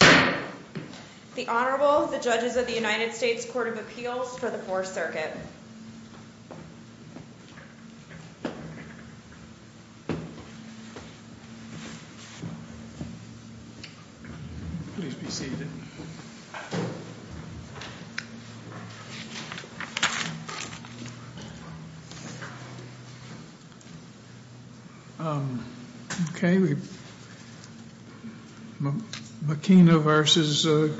The Honorable, the Judges of the United States Court of Appeals for the Fourth Circuit. Please be seated. McKina v.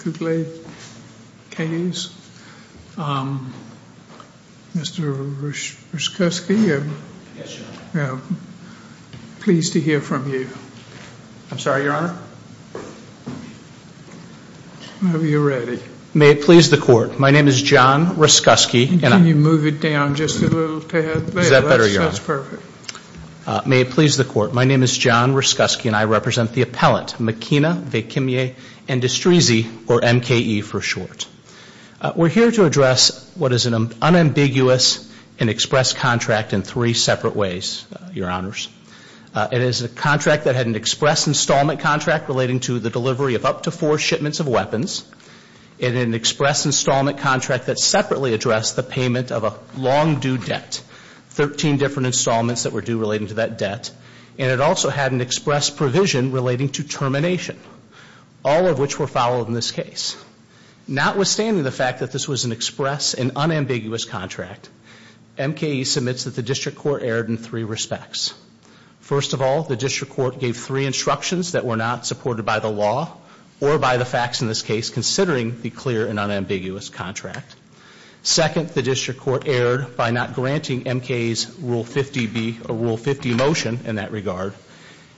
Kutlay Kayes. Mr. Ryszkowski, I'm pleased to hear from you. I'm sorry, Your Honor? Whenever you're ready. May it please the Court, my name is John Ryszkowski. Can you move it down just a little bit? Is that better, Your Honor? That's perfect. May it please the Court, my name is John Ryszkowski and I represent the appellant, McKina v. Kimya Endustrisi, or MKE for short. We're here to address what is an unambiguous and express contract in three separate ways, Your Honors. It is a contract that had an express installment contract relating to the delivery of up to four shipments of weapons. It had an express installment contract that separately addressed the payment of a long due debt. Thirteen different installments that were due relating to that debt. And it also had an express provision relating to termination. All of which were followed in this case. Notwithstanding the fact that this was an express and unambiguous contract, MKE submits that the District Court erred in three respects. First of all, the District Court gave three instructions that were not supported by the law or by the facts in this case, considering the clear and unambiguous contract. Second, the District Court erred by not granting MKE's Rule 50 motion in that regard.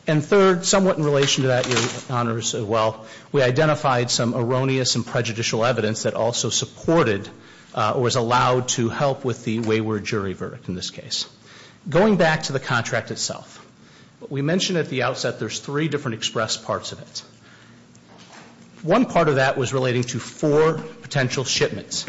And third, somewhat in relation to that, Your Honors, as well, we identified some erroneous and prejudicial evidence that also supported or was allowed to help with the wayward jury verdict in this case. Going back to the contract itself, we mentioned at the outset there's three different express parts of it. One part of that was relating to four potential shipments.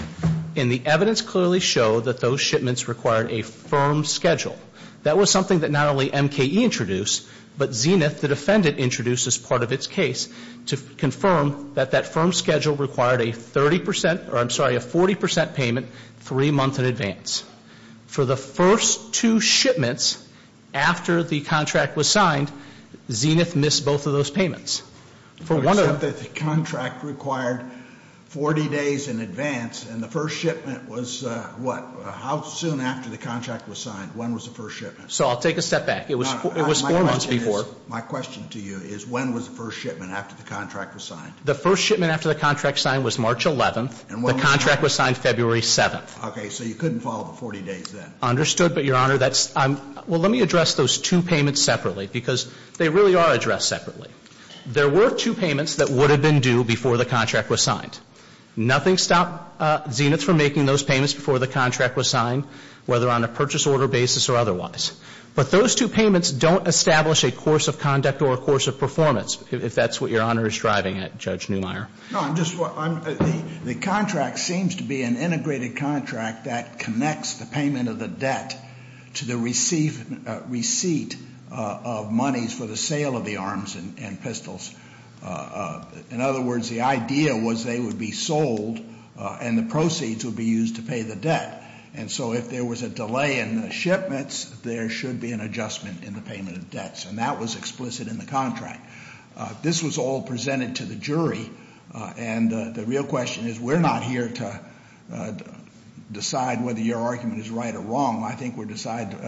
And the evidence clearly showed that those shipments required a firm schedule. That was something that not only MKE introduced, but Zenith, the defendant, introduced as part of its case to confirm that that firm schedule required a 30%, or I'm sorry, a 40% payment three months in advance. For the first two shipments after the contract was signed, Zenith missed both of those payments. For one of the- So I'll take a step back. It was four months before. My question to you is when was the first shipment after the contract was signed? The first shipment after the contract was signed was March 11th. And when was that? The contract was signed February 7th. Okay. So you couldn't follow the 40 days then. Understood. But, Your Honor, that's – well, let me address those two payments separately, because they really are addressed separately. There were two payments that would have been due before the contract was signed. Nothing stopped Zenith from making those payments before the contract was signed, whether on a purchase order basis or otherwise. But those two payments don't establish a course of conduct or a course of performance, if that's what Your Honor is driving at, Judge Neumeier. No, I'm just – the contract seems to be an integrated contract that connects the payment of the debt to the receipt of monies for the sale of the arms and pistols. In other words, the idea was they would be sold and the proceeds would be used to pay the debt. And so if there was a delay in the shipments, there should be an adjustment in the payment of debts. And that was explicit in the contract. This was all presented to the jury. And the real question is we're not here to decide whether your argument is right or wrong. I think we're deciding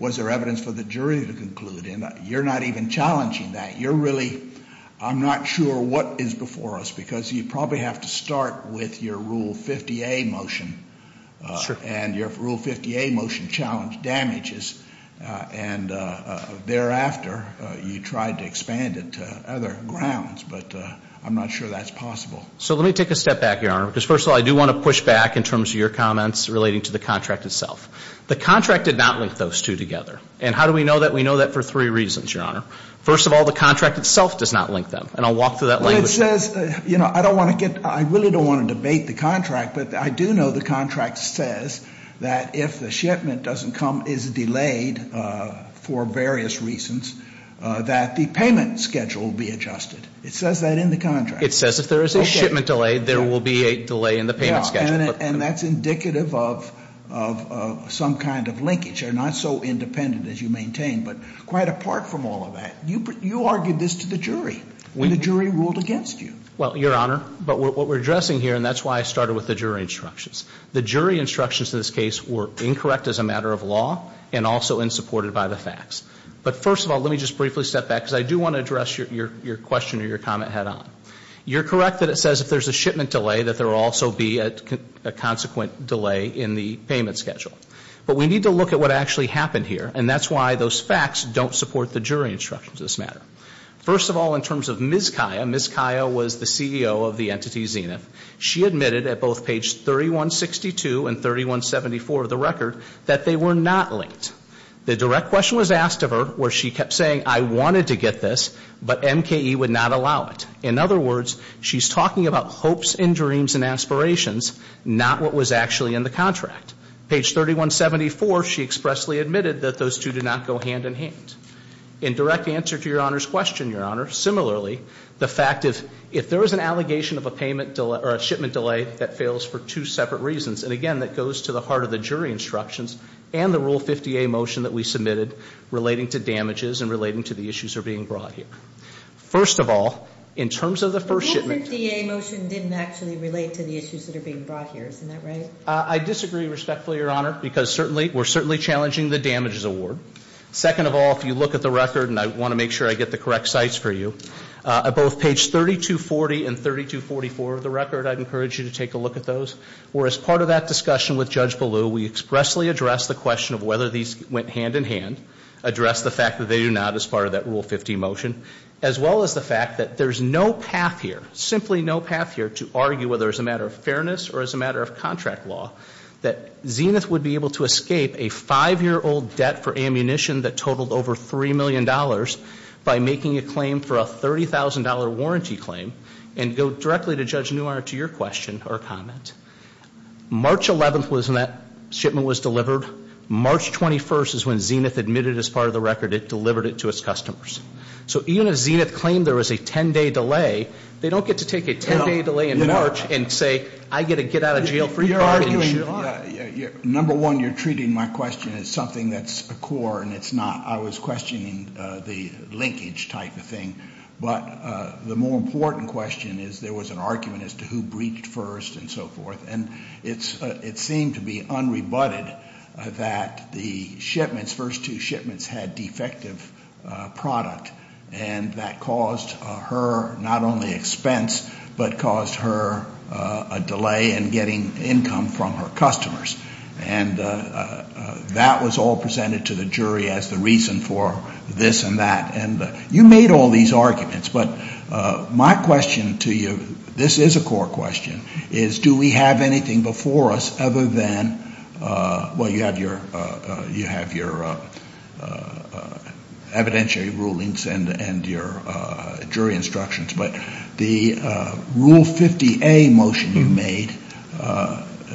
was there evidence for the jury to conclude. And you're not even challenging that. You're really – I'm not sure what is before us, because you probably have to start with your Rule 50A motion. And your Rule 50A motion challenged damages. And thereafter, you tried to expand it to other grounds. But I'm not sure that's possible. So let me take a step back, Your Honor, because, first of all, I do want to push back in terms of your comments relating to the contract itself. The contract did not link those two together. And how do we know that? We know that for three reasons, Your Honor. First of all, the contract itself does not link them. And I'll walk through that language. Well, it says – you know, I don't want to get – I really don't want to debate the contract. But I do know the contract says that if the shipment doesn't come – is delayed for various reasons, that the payment schedule will be adjusted. It says that in the contract. It says if there is a shipment delay, there will be a delay in the payment schedule. And that's indicative of some kind of linkage. They're not so independent as you maintain, but quite apart from all of that. You argued this to the jury when the jury ruled against you. Well, Your Honor, but what we're addressing here – and that's why I started with the jury instructions. The jury instructions in this case were incorrect as a matter of law and also insupported by the facts. But, first of all, let me just briefly step back because I do want to address your question or your comment head on. You're correct that it says if there's a shipment delay, that there will also be a consequent delay in the payment schedule. But we need to look at what actually happened here. And that's why those facts don't support the jury instructions in this matter. First of all, in terms of Ms. Kaya, Ms. Kaya was the CEO of the entity Zenith. She admitted at both page 3162 and 3174 of the record that they were not linked. The direct question was asked of her where she kept saying, I wanted to get this, but MKE would not allow it. In other words, she's talking about hopes and dreams and aspirations, not what was actually in the contract. Page 3174, she expressly admitted that those two did not go hand in hand. In direct answer to Your Honor's question, Your Honor, similarly, the fact of if there was an allegation of a shipment delay that fails for two separate reasons, and again, that goes to the heart of the jury instructions and the Rule 50A motion that we submitted relating to damages and relating to the issues that are being brought here. First of all, in terms of the first shipment. Rule 50A motion didn't actually relate to the issues that are being brought here. Isn't that right? I disagree respectfully, Your Honor, because certainly, we're certainly challenging the damages award. Second of all, if you look at the record, and I want to make sure I get the correct sites for you, at both page 3240 and 3244 of the record, I'd encourage you to take a look at those, where as part of that discussion with Judge Ballew, we expressly addressed the question of whether these went hand in hand, addressed the fact that they do not as part of that Rule 50 motion, as well as the fact that there's no path here, simply no path here to argue whether it's a matter of fairness or as a matter of contract law, that Zenith would be able to escape a five-year-old debt for ammunition that totaled over $3 million by making a claim for a $30,000 warranty claim and go directly to Judge Newhart to your question or comment. March 11th was when that shipment was delivered. March 21st is when Zenith admitted as part of the record it delivered it to its customers. So even if Zenith claimed there was a ten-day delay, they don't get to take a ten-day delay in March and say, I get a get-out-of-jail-free card. You're arguing, number one, you're treating my question as something that's a core and it's not, I was questioning the linkage type of thing, but the more important question is there was an argument as to who breached first and so forth, and it seemed to be unrebutted that the shipments, those first two shipments had defective product and that caused her not only expense, but caused her a delay in getting income from her customers. And that was all presented to the jury as the reason for this and that. And you made all these arguments, but my question to you, this is a core question, is do we have anything before us other than, well, you have your evidentiary rulings and your jury instructions, but the Rule 50A motion you made,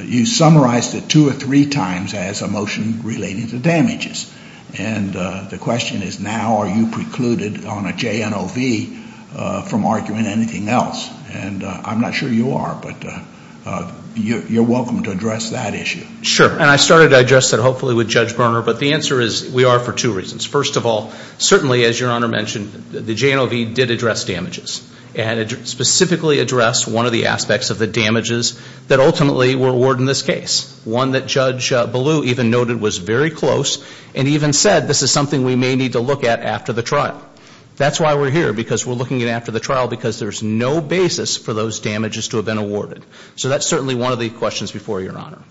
you summarized it two or three times as a motion relating to damages. And the question is now are you precluded on a JNOV from arguing anything else? And I'm not sure you are, but you're welcome to address that issue. Sure, and I started to address that hopefully with Judge Berner, but the answer is we are for two reasons. First of all, certainly, as Your Honor mentioned, the JNOV did address damages and specifically addressed one of the aspects of the damages that ultimately were awarded in this case, one that Judge Ballew even noted was very close and even said this is something we may need to look at after the trial. That's why we're here, because we're looking at it after the trial, because there's no basis for those damages to have been awarded. So that's certainly one of the questions before Your Honor.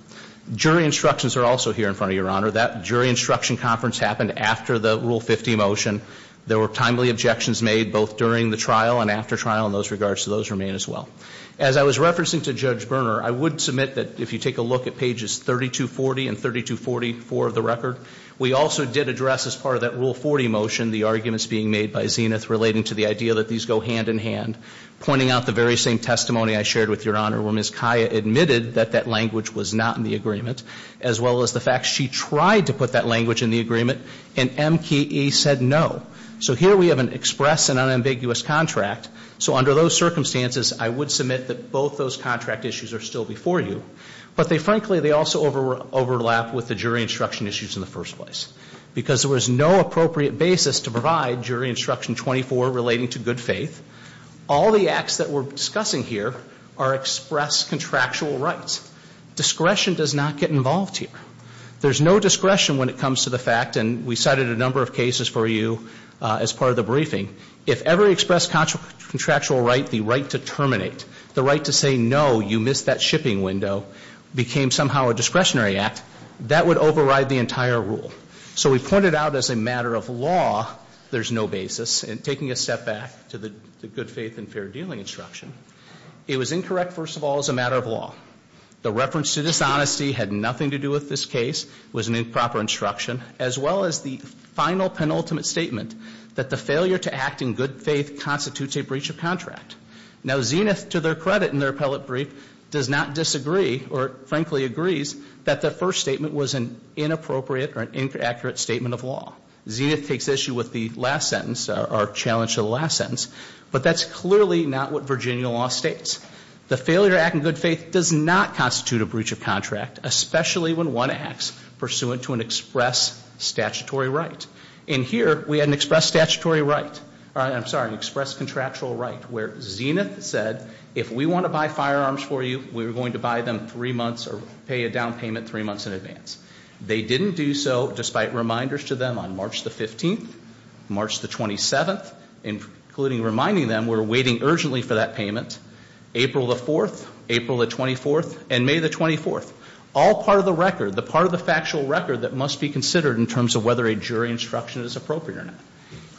Jury instructions are also here in front of Your Honor. That jury instruction conference happened after the Rule 50 motion. There were timely objections made both during the trial and after trial in those regards, so those remain as well. As I was referencing to Judge Berner, I would submit that if you take a look at pages 3240 and 3244 of the record, we also did address as part of that Rule 40 motion the arguments being made by Zenith relating to the idea that these go hand in hand, pointing out the very same testimony I shared with Your Honor where Ms. Kaya admitted that that language was not in the agreement, as well as the fact she tried to put that language in the agreement, and MKE said no. So here we have an express and unambiguous contract, so under those circumstances, I would submit that both those contract issues are still before you, but they frankly also overlap with the jury instruction issues in the first place because there was no appropriate basis to provide jury instruction 24 relating to good faith. All the acts that we're discussing here are express contractual rights. Discretion does not get involved here. There's no discretion when it comes to the fact, and we cited a number of cases for you as part of the briefing, if every express contractual right, the right to terminate, the right to say no, you missed that shipping window, became somehow a discretionary act, that would override the entire rule. So we pointed out as a matter of law there's no basis in taking a step back to the good faith and fair dealing instruction. It was incorrect, first of all, as a matter of law. The reference to dishonesty had nothing to do with this case. It was an improper instruction, as well as the final penultimate statement that the failure to act in good faith constitutes a breach of contract. Now, Zenith, to their credit in their appellate brief, does not disagree or frankly agrees that the first statement was an inappropriate or an inaccurate statement of law. Zenith takes issue with the last sentence, our challenge to the last sentence, but that's clearly not what Virginia law states. The failure to act in good faith does not constitute a breach of contract, especially when one acts pursuant to an express statutory right. In here, we had an express statutory right, I'm sorry, express contractual right, where Zenith said if we want to buy firearms for you, we're going to buy them three months or pay a down payment three months in advance. They didn't do so despite reminders to them on March the 15th, March the 27th, including reminding them we're waiting urgently for that payment, April the 4th, April the 24th, and May the 24th. All part of the record, the part of the factual record that must be considered in terms of whether a jury instruction is appropriate or not.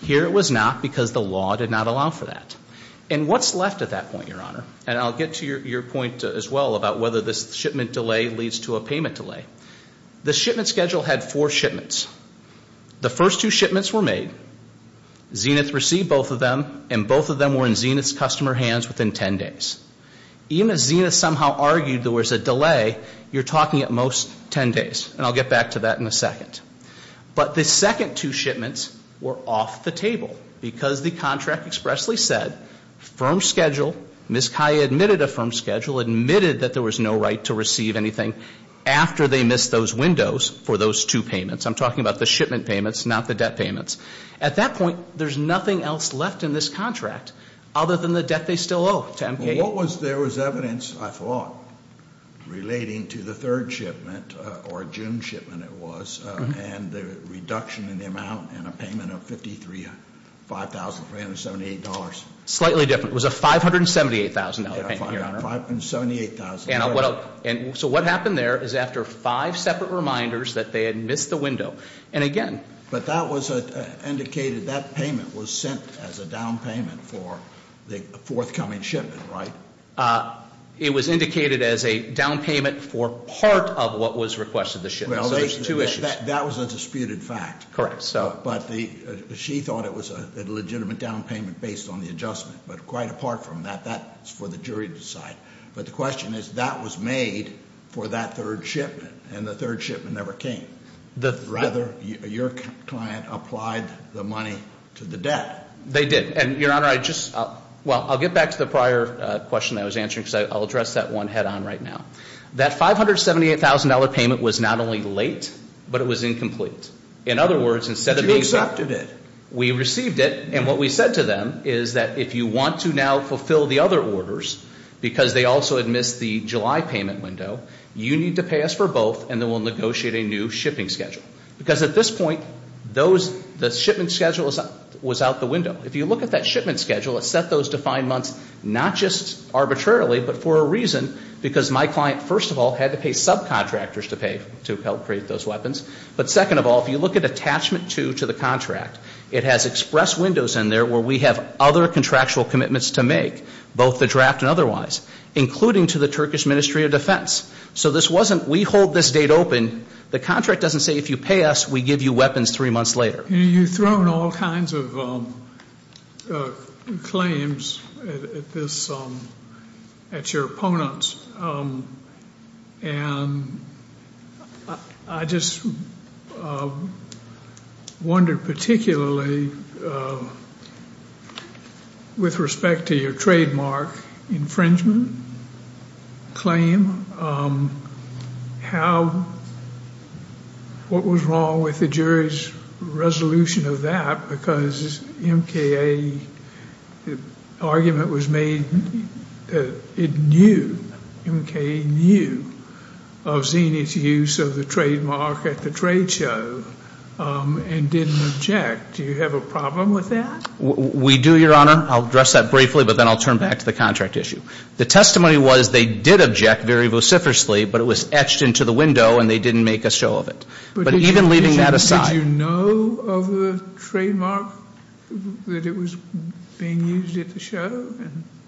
Here it was not because the law did not allow for that. And what's left at that point, Your Honor? And I'll get to your point as well about whether this shipment delay leads to a payment delay. The shipment schedule had four shipments. The first two shipments were made, Zenith received both of them, and both of them were in Zenith's customer hands within ten days. Even if Zenith somehow argued there was a delay, you're talking at most ten days. And I'll get back to that in a second. But the second two shipments were off the table because the contract expressly said firm schedule, Ms. Kaya admitted a firm schedule, admitted that there was no right to receive anything after they missed those windows for those two payments. I'm talking about the shipment payments, not the debt payments. At that point, there's nothing else left in this contract other than the debt they still owe to MK- What was there was evidence, I thought, relating to the third shipment, or June shipment it was, and the reduction in the amount and a payment of $5,378. Slightly different. It was a $578,000 payment, Your Honor. $578,000. So what happened there is after five separate reminders that they had missed the window, and again- But that was indicated, that payment was sent as a down payment for the forthcoming shipment, right? It was indicated as a down payment for part of what was requested, the shipment. So there's two issues. That was a disputed fact. Correct. But she thought it was a legitimate down payment based on the adjustment. But quite apart from that, that's for the jury to decide. But the question is, that was made for that third shipment, and the third shipment never came. Rather, your client applied the money to the debt. They did, and Your Honor, I just- Well, I'll get back to the prior question that I was answering, because I'll address that one head on right now. That $578,000 payment was not only late, but it was incomplete. In other words, instead of being- But you accepted it. We received it, and what we said to them is that if you want to now fulfill the other orders, because they also had missed the July payment window, you need to pay us for both, and then we'll negotiate a new shipping schedule. Because at this point, the shipment schedule was out the window. If you look at that shipment schedule, it set those defined months not just arbitrarily, but for a reason, because my client, first of all, had to pay subcontractors to help create those weapons. But second of all, if you look at Attachment 2 to the contract, it has express windows in there where we have other contractual commitments to make, both the draft and otherwise, including to the Turkish Ministry of Defense. So this wasn't we hold this date open. The contract doesn't say if you pay us, we give you weapons three months later. You've thrown all kinds of claims at your opponents, and I just wonder particularly with respect to your trademark infringement claim, what was wrong with the jury's resolution of that? Because MKA, the argument was made that it knew, MKA knew of Zenith's use of the trademark at the trade show and didn't object. Do you have a problem with that? We do, Your Honor. I'll address that briefly, but then I'll turn back to the contract issue. The testimony was they did object very vociferously, but it was etched into the window and they didn't make a show of it. But even leaving that aside. Did you know of the trademark, that it was being used at the show?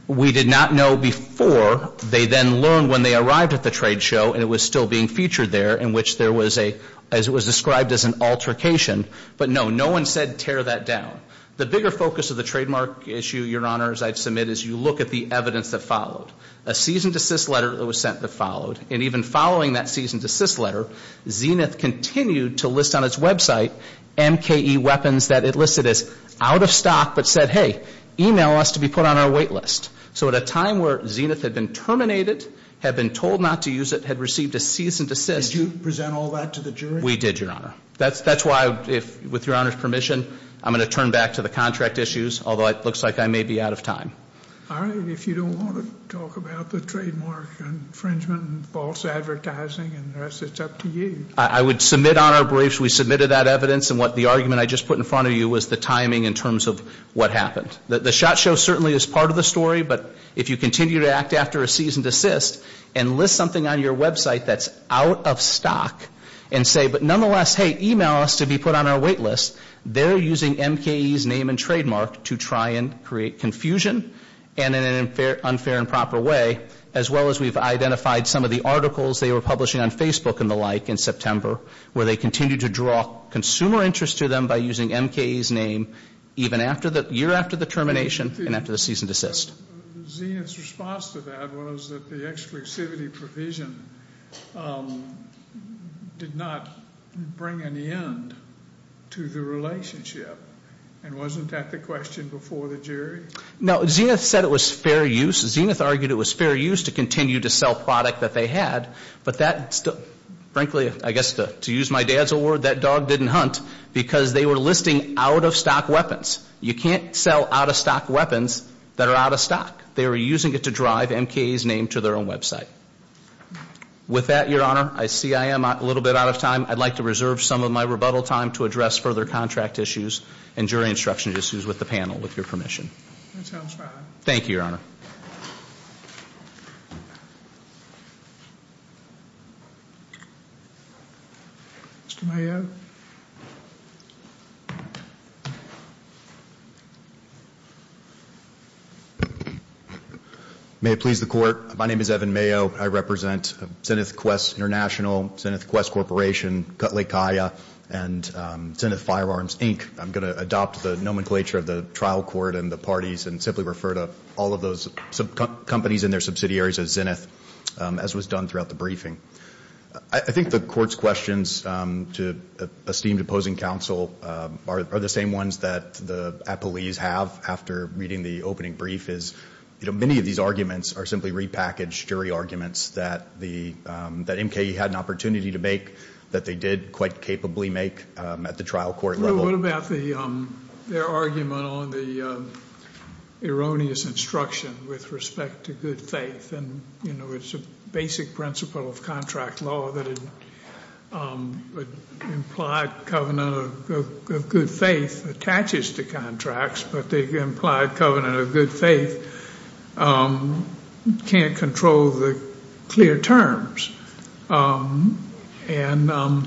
We did not know before. They then learned when they arrived at the trade show, and it was still being featured there in which there was a, as it was described as an altercation. But no, no one said tear that down. The bigger focus of the trademark issue, Your Honor, as I submit, is you look at the evidence that followed. A cease and desist letter that was sent that followed. And even following that cease and desist letter, Zenith continued to list on its website MKA weapons that it listed as out of stock, but said, hey, email us to be put on our wait list. So at a time where Zenith had been terminated, had been told not to use it, had received a cease and desist. Did you present all that to the jury? We did, Your Honor. That's why, with Your Honor's permission, I'm going to turn back to the contract issues, although it looks like I may be out of time. All right. If you don't want to talk about the trademark infringement and false advertising and the rest, it's up to you. I would submit on our briefs, we submitted that evidence, and what the argument I just put in front of you was the timing in terms of what happened. The shot show certainly is part of the story, but if you continue to act after a cease and desist, and list something on your website that's out of stock, and say, but nonetheless, hey, email us to be put on our wait list, they're using MKE's name and trademark to try and create confusion, and in an unfair and proper way, as well as we've identified some of the articles they were publishing on Facebook and the like in September, where they continue to draw consumer interest to them by using MKE's name, even after the year after the termination and after the cease and desist. Zenith's response to that was that the exclusivity provision did not bring an end to the relationship, and wasn't that the question before the jury? No. Zenith said it was fair use. Zenith argued it was fair use to continue to sell product that they had, but that, frankly, I guess to use my dad's old word, that dog didn't hunt, because they were listing out-of-stock weapons. You can't sell out-of-stock weapons that are out-of-stock. They were using it to drive MKE's name to their own website. With that, Your Honor, I see I am a little bit out of time. I'd like to reserve some of my rebuttal time to address further contract issues and jury instruction issues with the panel, with your permission. That sounds fine. Thank you, Your Honor. Mr. Mayo? May it please the Court, my name is Evan Mayo. I represent Zenith Quest International, Zenith Quest Corporation, Cut Lake Aya, and Zenith Firearms, Inc. I'm going to adopt the nomenclature of the trial court and the parties and simply refer to all of those companies and their subsidiaries as Zenith, as was done throughout the briefing. I think the Court's questions to esteemed opposing counsel are the same ones that the appellees have after reading the opening brief is, you know, many of these arguments are simply repackaged jury arguments that MKE had an opportunity to make that they did quite capably make at the trial court level. So what about their argument on the erroneous instruction with respect to good faith? And, you know, it's a basic principle of contract law that an implied covenant of good faith attaches to contracts, but the implied covenant of good faith can't control the clear terms. And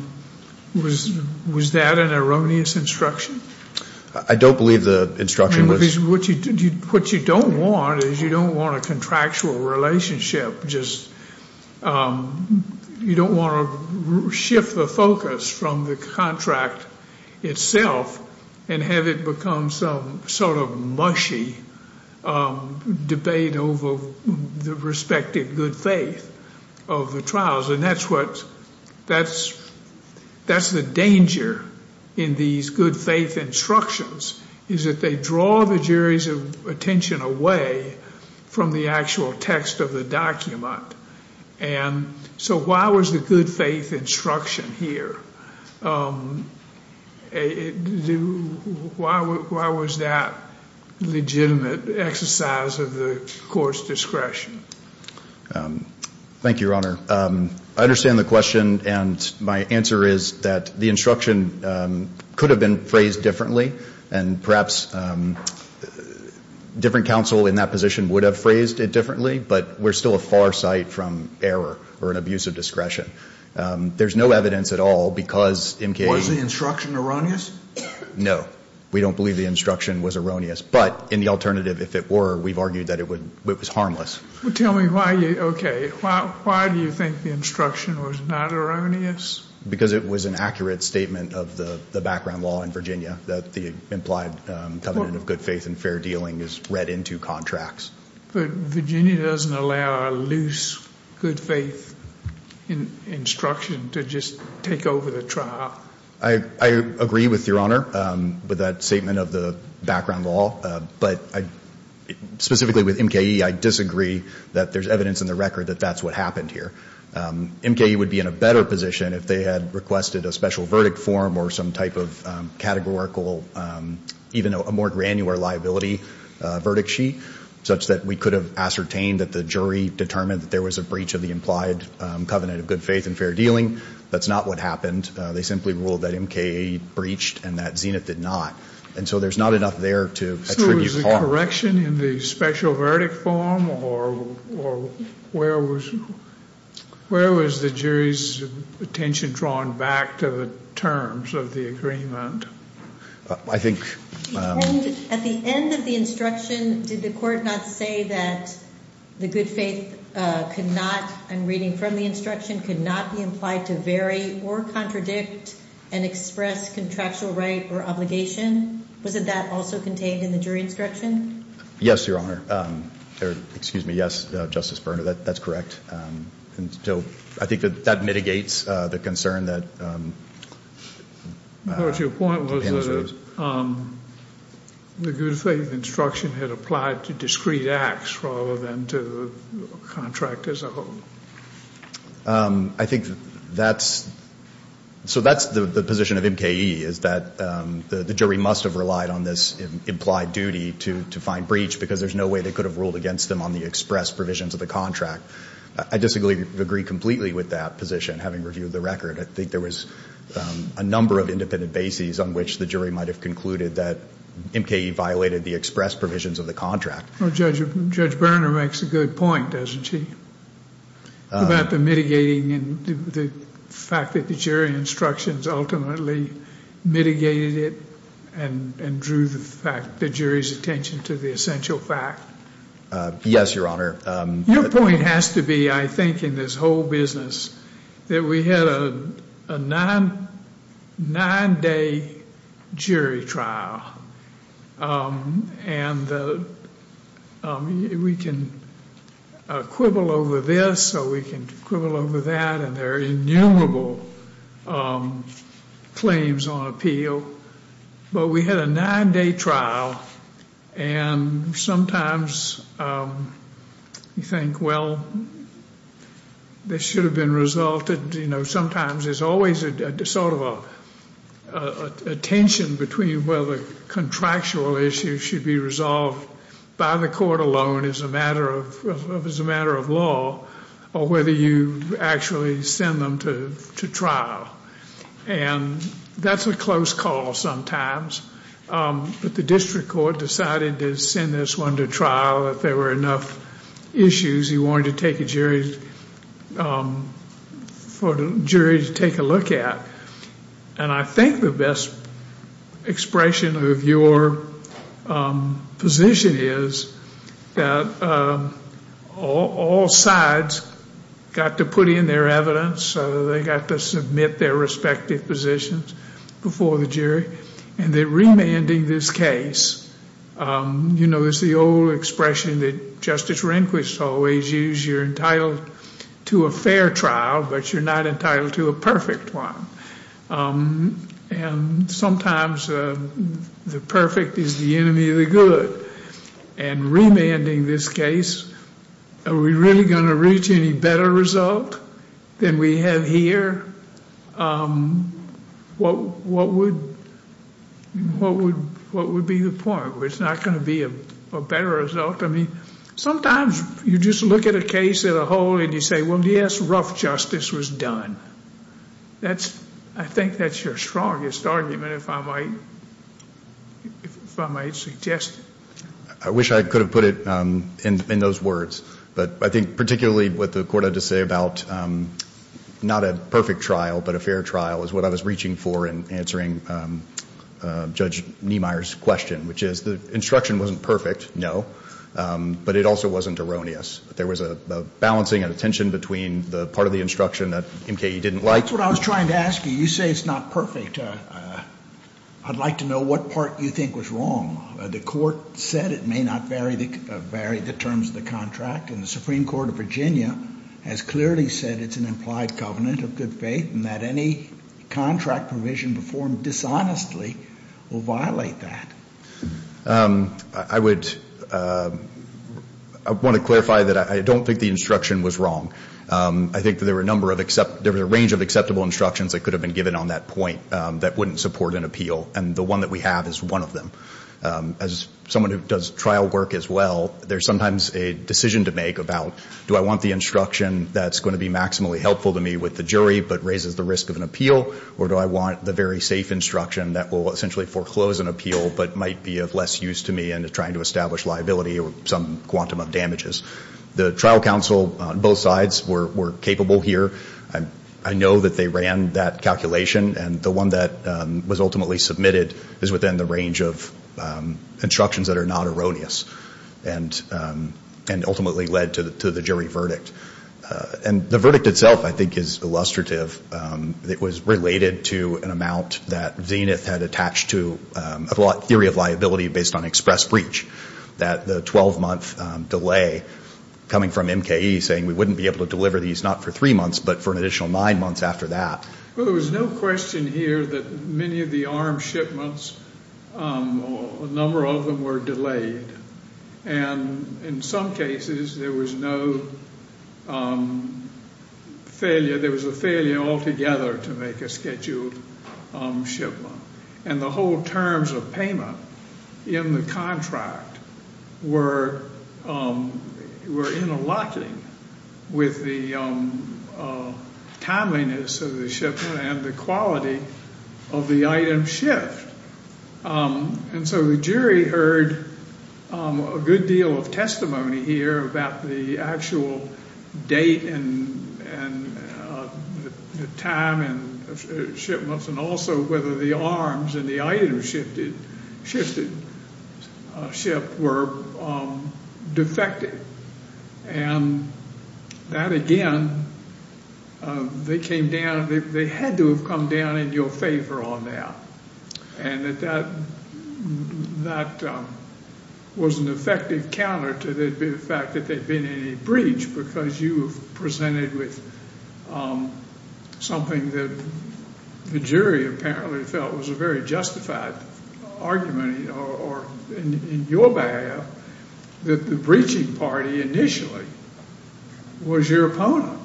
was that an erroneous instruction? I don't believe the instruction was. What you don't want is you don't want a contractual relationship, just you don't want to shift the focus from the contract itself and have it become some sort of mushy debate over the respective good faith of the trials. And that's the danger in these good faith instructions, is that they draw the jury's attention away from the actual text of the document. And so why was the good faith instruction here? Why was that legitimate exercise of the court's discretion? Thank you, Your Honor. I understand the question, and my answer is that the instruction could have been phrased differently, and perhaps different counsel in that position would have phrased it differently, but we're still a far sight from error or an abuse of discretion. There's no evidence at all because MKA's Was the instruction erroneous? No. We don't believe the instruction was erroneous, but in the alternative, if it were, we've argued that it was harmless. Well, tell me why you, okay, why do you think the instruction was not erroneous? Because it was an accurate statement of the background law in Virginia that the implied covenant of good faith and fair dealing is read into contracts. But Virginia doesn't allow a loose good faith instruction to just take over the trial. I agree with Your Honor with that statement of the background law, but specifically with MKA, I disagree that there's evidence in the record that that's what happened here. MKA would be in a better position if they had requested a special verdict form or some type of categorical, even a more granular liability verdict sheet, such that we could have ascertained that the jury determined that there was a breach of the implied covenant of good faith and fair dealing. That's not what happened. They simply ruled that MKA breached and that Zenith did not. And so there's not enough there to attribute harm. Was there a correction in the special verdict form, or where was the jury's attention drawn back to the terms of the agreement? I think at the end of the instruction, did the court not say that the good faith could not, in reading from the instruction, could not be implied to vary or contradict and express contractual right or obligation? Wasn't that also contained in the jury instruction? Yes, Your Honor. Excuse me. Yes, Justice Berner, that's correct. And so I think that that mitigates the concern that depends on this. Your point was that the good faith instruction had applied to discrete acts rather than to contract as a whole. I think that's the position of MKA, is that the jury must have relied on this implied duty to find breach because there's no way they could have ruled against them on the express provisions of the contract. I disagree completely with that position, having reviewed the record. I think there was a number of independent bases on which the jury might have concluded that MKA violated the express provisions of the contract. Judge Berner makes a good point, doesn't she, about the mitigating and the fact that the jury instructions ultimately mitigated it and drew the jury's attention to the essential fact. Yes, Your Honor. Your point has to be, I think, in this whole business, that we had a nine-day jury trial and we can quibble over this or we can quibble over that and there are innumerable claims on appeal, but we had a nine-day trial and sometimes you think, well, this should have been resolved. Sometimes there's always sort of a tension between whether contractual issues should be resolved by the court alone as a matter of law or whether you actually send them to trial. And that's a close call sometimes, but the district court decided to send this one to trial if there were enough issues he wanted for the jury to take a look at. And I think the best expression of your position is that all sides got to put in their evidence, they got to submit their respective positions before the jury, and that remanding this case, you know, it's the old expression that Justice Rehnquist always used, you're entitled to a fair trial, but you're not entitled to a perfect one. And sometimes the perfect is the enemy of the good. And remanding this case, are we really going to reach any better result than we have here? What would be the point? It's not going to be a better result. I mean, sometimes you just look at a case as a whole and you say, well, yes, rough justice was done. I think that's your strongest argument, if I might suggest. I wish I could have put it in those words. But I think particularly what the court had to say about not a perfect trial but a fair trial is what I was reaching for in answering Judge Niemeyer's question, which is the instruction wasn't perfect, no, but it also wasn't erroneous. There was a balancing and a tension between the part of the instruction that MKE didn't like. That's what I was trying to ask you. You say it's not perfect. I'd like to know what part you think was wrong. The court said it may not vary the terms of the contract, and the Supreme Court of Virginia has clearly said it's an implied covenant of good faith and that any contract provision performed dishonestly will violate that. I would want to clarify that I don't think the instruction was wrong. I think there were a range of acceptable instructions that could have been given on that point that wouldn't support an appeal, and the one that we have is one of them. As someone who does trial work as well, there's sometimes a decision to make about, do I want the instruction that's going to be maximally helpful to me with the jury but raises the risk of an appeal, or do I want the very safe instruction that will essentially foreclose an appeal but might be of less use to me in trying to establish liability or some quantum of damages. The trial counsel on both sides were capable here. I know that they ran that calculation, and the one that was ultimately submitted is within the range of instructions that are not erroneous and ultimately led to the jury verdict. The verdict itself, I think, is illustrative. It was related to an amount that Zenith had attached to a theory of liability based on express breach, that the 12-month delay coming from MKE saying we wouldn't be able to deliver these not for three months but for an additional nine months after that. Well, there was no question here that many of the armed shipments, a number of them were delayed. And in some cases there was no failure. There was a failure altogether to make a scheduled shipment. And the whole terms of payment in the contract were interlocking with the timeliness of the shipment and the quality of the item shipped. And so the jury heard a good deal of testimony here about the actual date and time and shipments and also whether the arms and the items shipped were defective. And that, again, they came down, they had to have come down in your favor on that. And that that was an effective counter to the fact that there had been any breach because you presented with something that the jury apparently felt was a very justified argument, or in your behalf, that the breaching party initially was your opponent.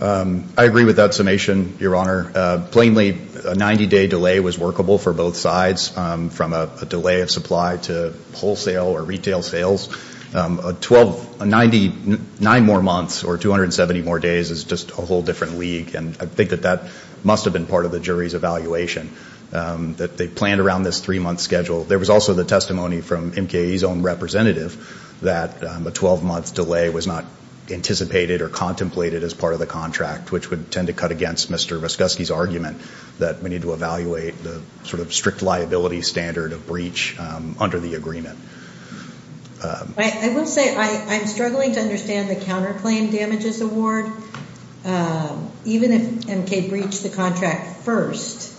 I agree with that summation, Your Honor. Plainly, a 90-day delay was workable for both sides from a delay of supply to wholesale or retail sales. Nine more months or 270 more days is just a whole different league. And I think that that must have been part of the jury's evaluation, that they planned around this three-month schedule. There was also the testimony from MKAE's own representative that a 12-month delay was not anticipated or contemplated as part of the contract, which would tend to cut against Mr. Voskoski's argument that we need to evaluate the sort of strict liability standard of breach under the agreement. I will say I'm struggling to understand the counterclaim damages award. Even if MKAE breached the contract first,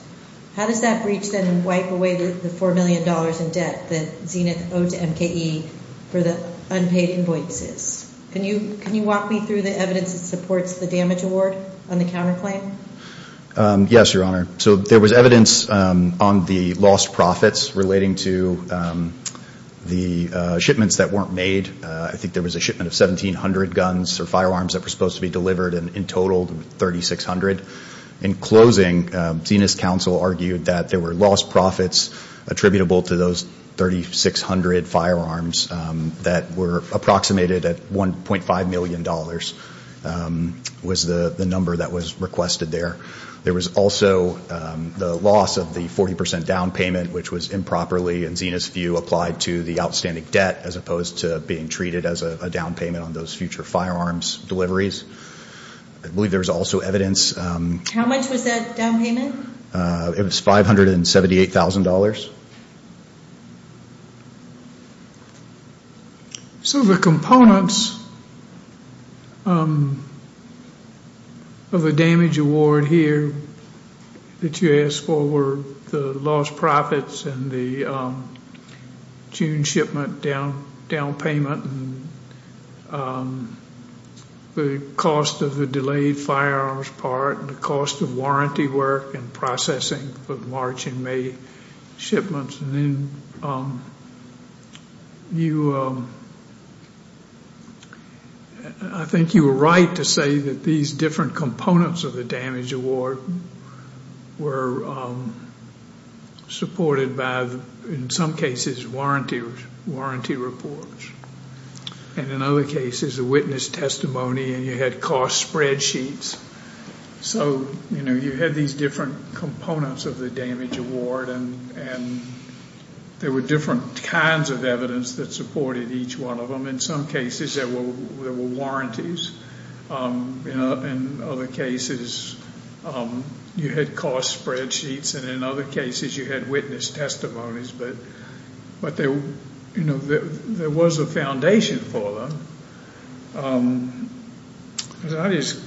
how does that breach then wipe away the $4 million in debt that Zenith owed to MKAE for the unpaid invoices? Can you walk me through the evidence that supports the damage award on the counterclaim? Yes, Your Honor. So there was evidence on the lost profits relating to the shipments that weren't made. I think there was a shipment of 1,700 guns or firearms that were supposed to be delivered, and in total 3,600. In closing, Zenith's counsel argued that there were lost profits attributable to those 3,600 firearms that were approximated at $1.5 million was the number that was requested there. There was also the loss of the 40 percent down payment, which was improperly, in Zenith's view, applied to the outstanding debt as opposed to being treated as a down payment on those future firearms deliveries. I believe there was also evidence. How much was that down payment? It was $578,000. So the components of the damage award here that you asked for were the lost profits and the June shipment down payment, the cost of the delayed firearms part, and the cost of warranty work and processing for March and May. I think you were right to say that these different components of the damage award were supported by, in some cases, warranty reports. And in other cases, a witness testimony, and you had cost spreadsheets. So you had these different components of the damage award, and there were different kinds of evidence that supported each one of them. In some cases, there were warranties. In other cases, you had cost spreadsheets, and in other cases, you had witness testimonies. But there was a foundation for them. As I just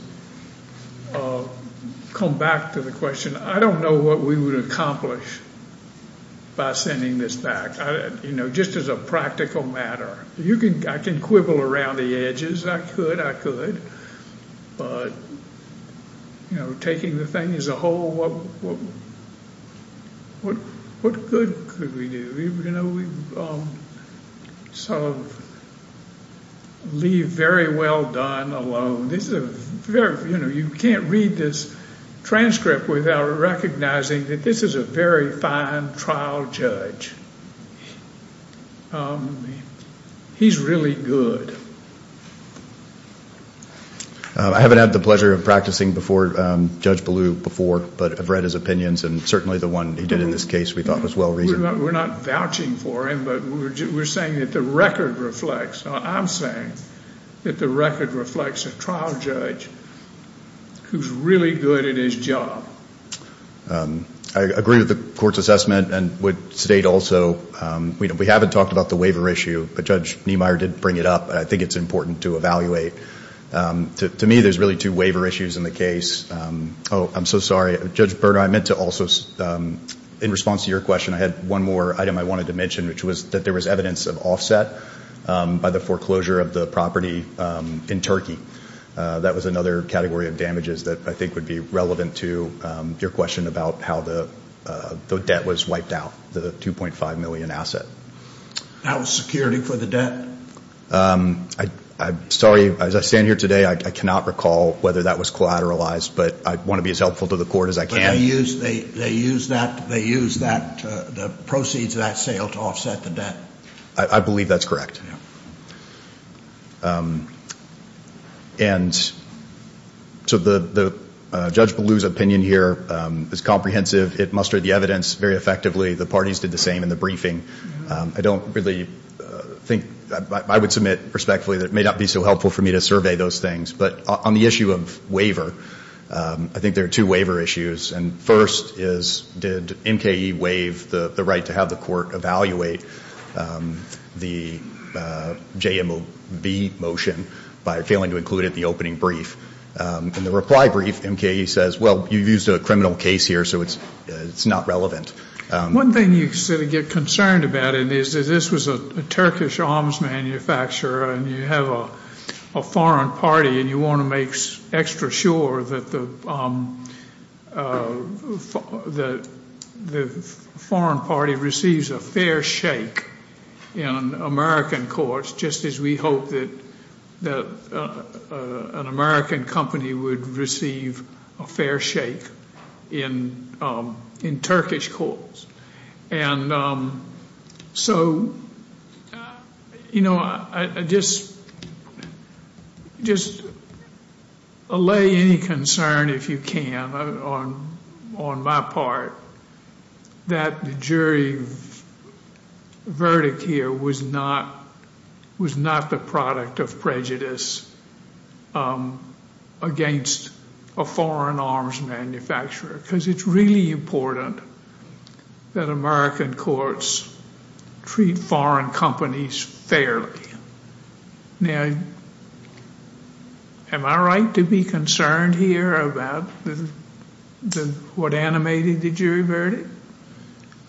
come back to the question, I don't know what we would accomplish by sending this back. Just as a practical matter, I can quibble around the edges. I could. I could. But taking the thing as a whole, what good could we do? You know, we sort of leave very well done alone. This is a very, you know, you can't read this transcript without recognizing that this is a very fine trial judge. He's really good. I haven't had the pleasure of practicing before Judge Ballou before, but I've read his opinions, and certainly the one he did in this case we thought was well-reasoned. We're not vouching for him, but we're saying that the record reflects, I'm saying that the record reflects a trial judge who's really good at his job. I agree with the court's assessment and would state also, we haven't talked about the waiver issue, but Judge Niemeyer did bring it up, and I think it's important to evaluate. To me, there's really two waiver issues in the case. Oh, I'm so sorry. Judge Berner, I meant to also, in response to your question, I had one more item I wanted to mention, which was that there was evidence of offset by the foreclosure of the property in Turkey. That was another category of damages that I think would be relevant to your question about how the debt was wiped out, the $2.5 million asset. That was security for the debt? I'm sorry. As I stand here today, I cannot recall whether that was collateralized, but I want to be as helpful to the court as I can. But they used that, they used that, the proceeds of that sale to offset the debt. I believe that's correct. Yeah. And so Judge Ballou's opinion here is comprehensive. It mustered the evidence very effectively. The parties did the same in the briefing. I don't really think, I would submit respectfully that it may not be so helpful for me to survey those things. But on the issue of waiver, I think there are two waiver issues. And first is, did MKE waive the right to have the court evaluate the JMOB motion by failing to include it in the opening brief? In the reply brief, MKE says, well, you used a criminal case here, so it's not relevant. One thing you sort of get concerned about, and this was a Turkish arms manufacturer, and you have a foreign party and you want to make extra sure that the foreign party receives a fair shake in American courts, just as we hope that an American company would receive a fair shake in Turkish courts. And so, you know, I just allay any concern, if you can, on my part, that the jury verdict here was not the product of prejudice against a foreign arms manufacturer. Because it's really important that American courts treat foreign companies fairly. Now, am I right to be concerned here about what animated the jury verdict?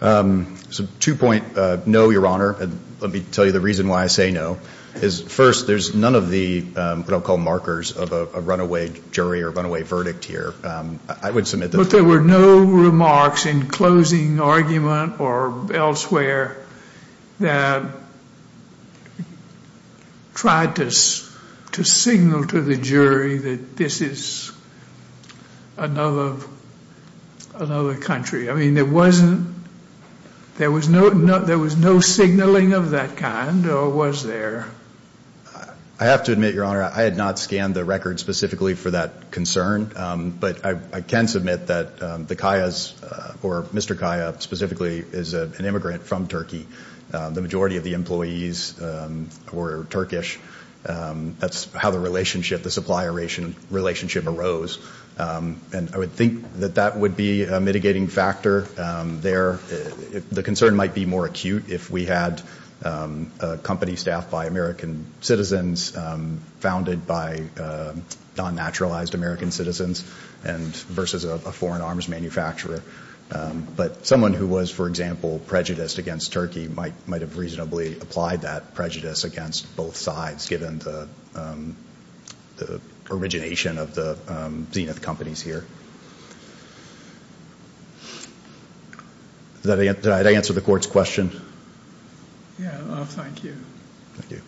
It's a two-point no, Your Honor. Let me tell you the reason why I say no. First, there's none of the what I'll call markers of a runaway jury or runaway verdict here. But there were no remarks in closing argument or elsewhere that tried to signal to the jury that this is another country. I mean, there was no signaling of that kind, or was there? I have to admit, Your Honor, I had not scanned the record specifically for that concern. But I can submit that the Kayas, or Mr. Kaya specifically, is an immigrant from Turkey. The majority of the employees were Turkish. That's how the relationship, the supply relationship arose. And I would think that that would be a mitigating factor there. The concern might be more acute if we had a company staffed by American citizens, founded by non-naturalized American citizens versus a foreign arms manufacturer. But someone who was, for example, prejudiced against Turkey might have reasonably applied that prejudice against both sides, given the origination of the Zenith companies here. Did I answer the court's question? Yes. Thank you. Thank you.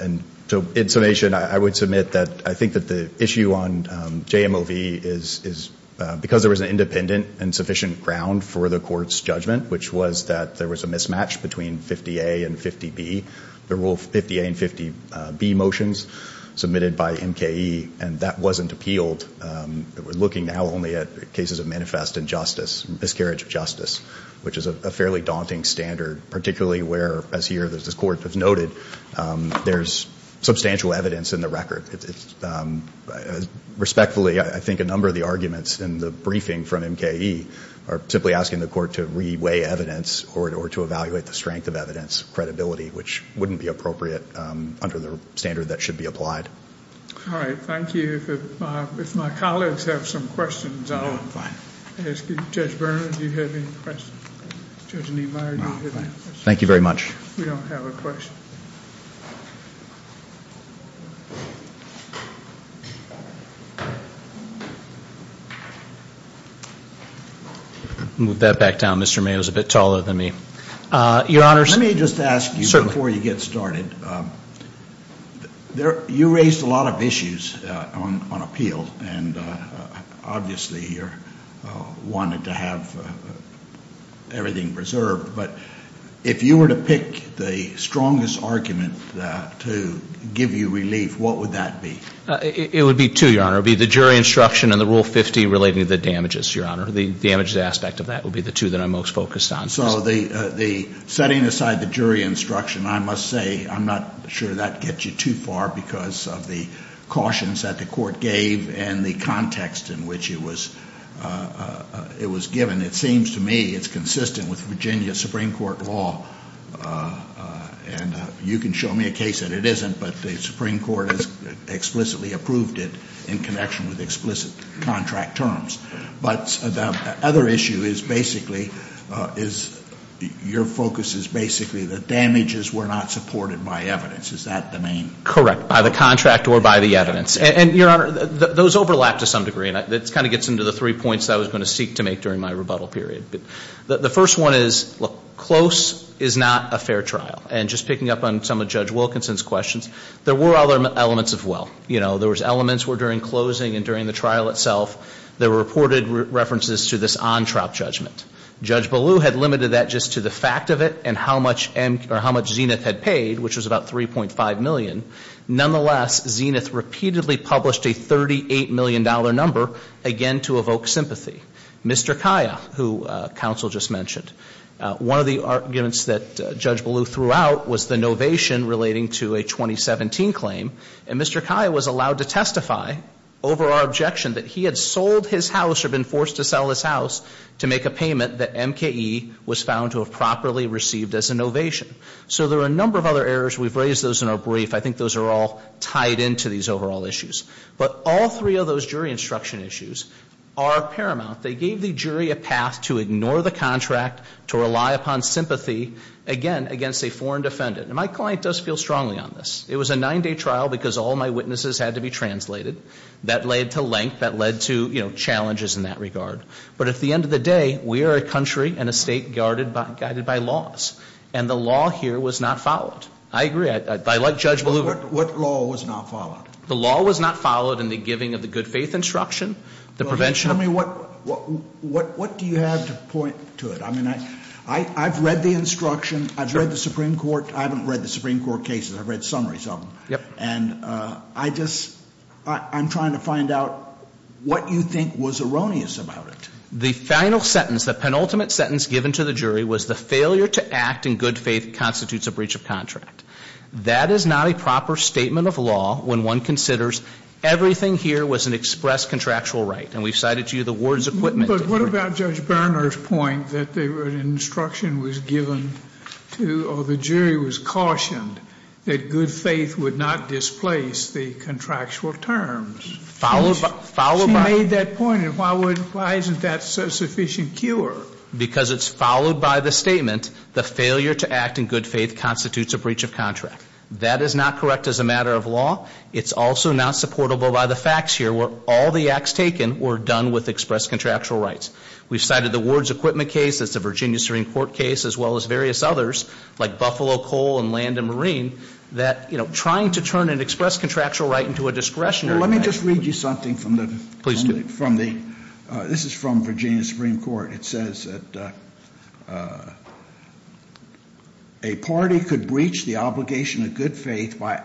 And so in summation, I would submit that I think that the issue on JMOV is because there was an independent and sufficient ground for the court's judgment, which was that there was a mismatch between 50A and 50B, the rule 50A and 50B motions submitted by MKE, and that wasn't appealed. We're looking now only at cases of manifest injustice, miscarriage of justice, which is a fairly daunting standard, particularly where, as here the court has noted, there's substantial evidence in the record. Respectfully, I think a number of the arguments in the briefing from MKE are simply asking the court to reweigh evidence or to evaluate the strength of evidence credibility, which wouldn't be appropriate under the standard that should be applied. All right. Thank you. If my colleagues have some questions, I'll ask you. Judge Bernhard, do you have any questions? Judge Niemeyer, do you have any questions? Thank you very much. We don't have a question. Move that back down. Mr. Mayo is a bit taller than me. Your Honors. Let me just ask you before you get started. You raised a lot of issues on appeal, and obviously you wanted to have everything preserved. But if you were to pick the strongest argument to give you relief, what would that be? It would be two, Your Honor. It would be the jury instruction and the rule 50 relating to the damages, Your Honor. The damages aspect of that would be the two that I'm most focused on. So the setting aside the jury instruction, I must say I'm not sure that gets you too far because of the cautions that the court gave and the context in which it was given. It seems to me it's consistent with Virginia Supreme Court law, and you can show me a case that it isn't, but the Supreme Court has explicitly approved it in connection with explicit contract terms. But the other issue is basically is your focus is basically the damages were not supported by evidence. Is that the main? Correct, by the contract or by the evidence. And, Your Honor, those overlap to some degree, and it kind of gets into the three points that I was going to seek to make during my rebuttal period. The first one is, look, close is not a fair trial. And just picking up on some of Judge Wilkinson's questions, there were other elements of well. You know, there was elements where during closing and during the trial itself, there were reported references to this on-trap judgment. Judge Ballew had limited that just to the fact of it and how much Zenith had paid, which was about $3.5 million. Nonetheless, Zenith repeatedly published a $38 million number, again to evoke sympathy. Mr. Kaya, who counsel just mentioned, one of the arguments that Judge Ballew threw out was the novation relating to a 2017 claim. And Mr. Kaya was allowed to testify over our objection that he had sold his house or been forced to sell his house to make a payment that MKE was found to have properly received as a novation. So there are a number of other errors. We've raised those in our brief. I think those are all tied into these overall issues. But all three of those jury instruction issues are paramount. They gave the jury a path to ignore the contract, to rely upon sympathy, again, against a foreign defendant. And my client does feel strongly on this. It was a nine-day trial because all my witnesses had to be translated. That led to length. That led to, you know, challenges in that regard. But at the end of the day, we are a country and a state guided by laws. And the law here was not followed. I agree. I like Judge Ballew. What law was not followed? The law was not followed in the giving of the good faith instruction, the prevention. Tell me, what do you have to point to it? I mean, I've read the instruction. I've read the Supreme Court. I haven't read the Supreme Court cases. I've read summaries of them. And I just, I'm trying to find out what you think was erroneous about it. The final sentence, the penultimate sentence given to the jury was the failure to act in good faith constitutes a breach of contract. That is not a proper statement of law when one considers everything here was an express contractual right. And we've cited to you the ward's equipment. But what about Judge Berner's point that the instruction was given to, or the jury was cautioned, that good faith would not displace the contractual terms? She made that point, and why isn't that sufficient cure? Because it's followed by the statement, the failure to act in good faith constitutes a breach of contract. That is not correct as a matter of law. It's also not supportable by the facts here where all the acts taken were done with express contractual rights. We've cited the ward's equipment case, the Virginia Supreme Court case, as well as various others, like Buffalo, Cole, and Land and Marine, that, you know, trying to turn an express contractual right into a discretionary right. Let me just read you something from the, from the, this is from Virginia Supreme Court. It says that a party could breach the obligation of good faith by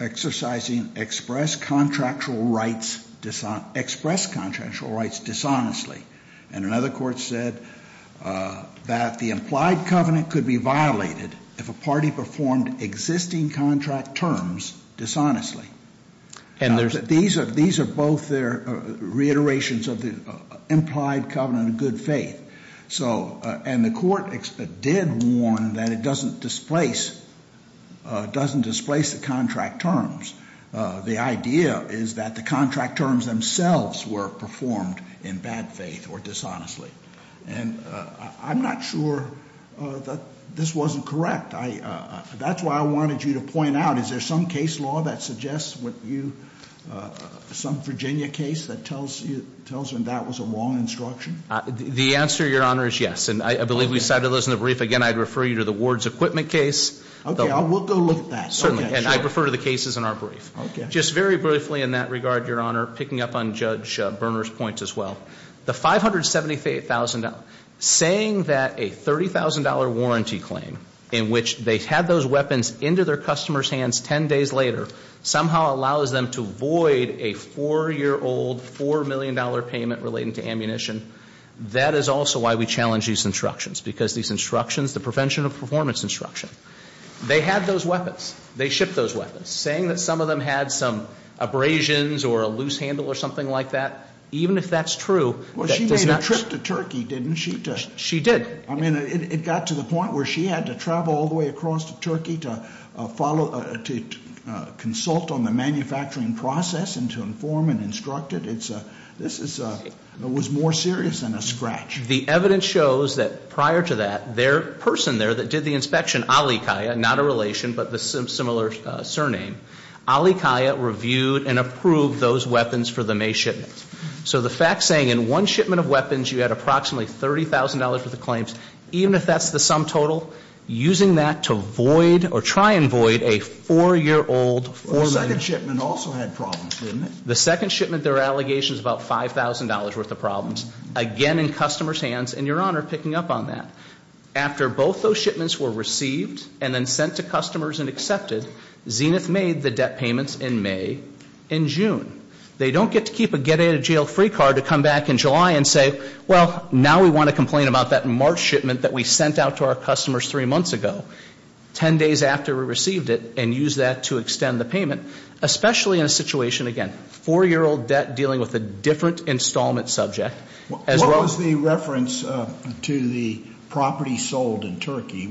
exercising express contractual rights, express contractual rights dishonestly. And another court said that the implied covenant could be violated if a party performed existing contract terms dishonestly. These are both reiterations of the implied covenant of good faith. So, and the court did warn that it doesn't displace, doesn't displace the contract terms. The idea is that the contract terms themselves were performed in bad faith or dishonestly. And I'm not sure that this wasn't correct. I, that's why I wanted you to point out, is there some case law that suggests what you, some Virginia case that tells you, tells them that was a wrong instruction? The answer, Your Honor, is yes. And I believe we cited those in the brief. Again, I'd refer you to the ward's equipment case. Okay, I will go look at that. Certainly. And I'd refer to the cases in our brief. Okay. Just very briefly in that regard, Your Honor, picking up on Judge Berner's points as well. The $578,000, saying that a $30,000 warranty claim in which they had those weapons into their customers' hands ten days later, somehow allows them to void a four-year-old, $4 million payment relating to ammunition, that is also why we challenge these instructions. Because these instructions, the prevention of performance instruction, they had those weapons. They shipped those weapons. Saying that some of them had some abrasions or a loose handle or something like that, even if that's true. Well, she made a trip to Turkey, didn't she? She did. I mean, it got to the point where she had to travel all the way across to Turkey to consult on the manufacturing process and to inform and instruct it. This was more serious than a scratch. The evidence shows that prior to that, their person there that did the inspection, Ali Kaya, not a relation but a similar surname, Ali Kaya reviewed and approved those weapons for the May shipment. So the fact saying in one shipment of weapons you had approximately $30,000 worth of claims, even if that's the sum total, using that to void or try and void a four-year-old, $4 million. The second shipment also had problems, didn't it? The second shipment, there are allegations about $5,000 worth of problems. Again, in customers' hands and Your Honor picking up on that. After both those shipments were received and then sent to customers and accepted, Zenith made the debt payments in May and June. They don't get to keep a get out of jail free card to come back in July and say, well, now we want to complain about that March shipment that we sent out to our customers three months ago. Ten days after we received it and used that to extend the payment, especially in a situation, again, four-year-old debt dealing with a different installment subject, as well- What was the reference to the property sold in Turkey?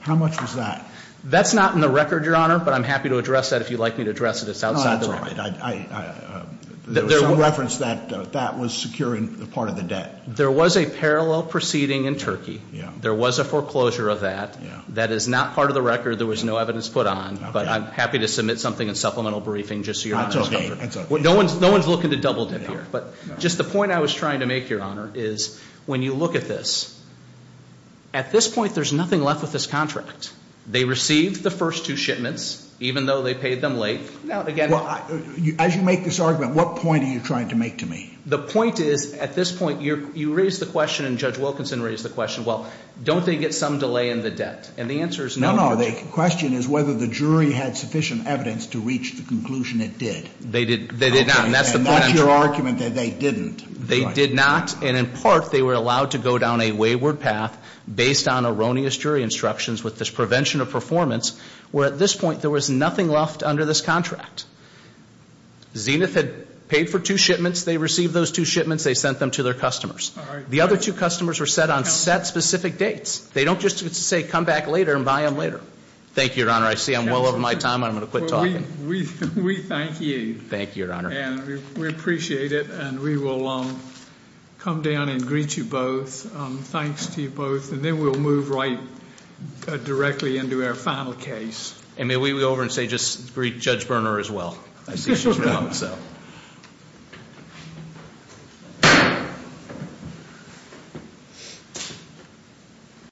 How much was that? That's not in the record, Your Honor, but I'm happy to address that if you'd like me to address it. It's outside the record. No, that's all right. There was some reference that that was securing part of the debt. There was a parallel proceeding in Turkey. Yeah. There was a foreclosure of that. Yeah. That is not part of the record. There was no evidence put on. Okay. But I'm happy to submit something in supplemental briefing just so Your Honor is comfortable. No one's looking to double-dip here. But just the point I was trying to make, Your Honor, is when you look at this, at this point there's nothing left with this contract. They received the first two shipments, even though they paid them late. Now, again- Well, as you make this argument, what point are you trying to make to me? The point is at this point you raised the question and Judge Wilkinson raised the question, well, don't they get some delay in the debt? And the answer is no. No, no. The question is whether the jury had sufficient evidence to reach the conclusion it did. They did not. And that's the point I'm trying to make. And that's your argument that they didn't. They did not. And in part they were allowed to go down a wayward path based on erroneous jury instructions with this prevention of performance, where at this point there was nothing left under this contract. Zenith had paid for two shipments. They received those two shipments. They sent them to their customers. The other two customers were set on set specific dates. They don't just say come back later and buy them later. Thank you, Your Honor. I see I'm well over my time. I'm going to quit talking. We thank you. Thank you, Your Honor. And we appreciate it. And we will come down and greet you both. Thanks to you both. And then we'll move right directly into our final case. And may we go over and say just greet Judge Berner as well. I see she's around, so.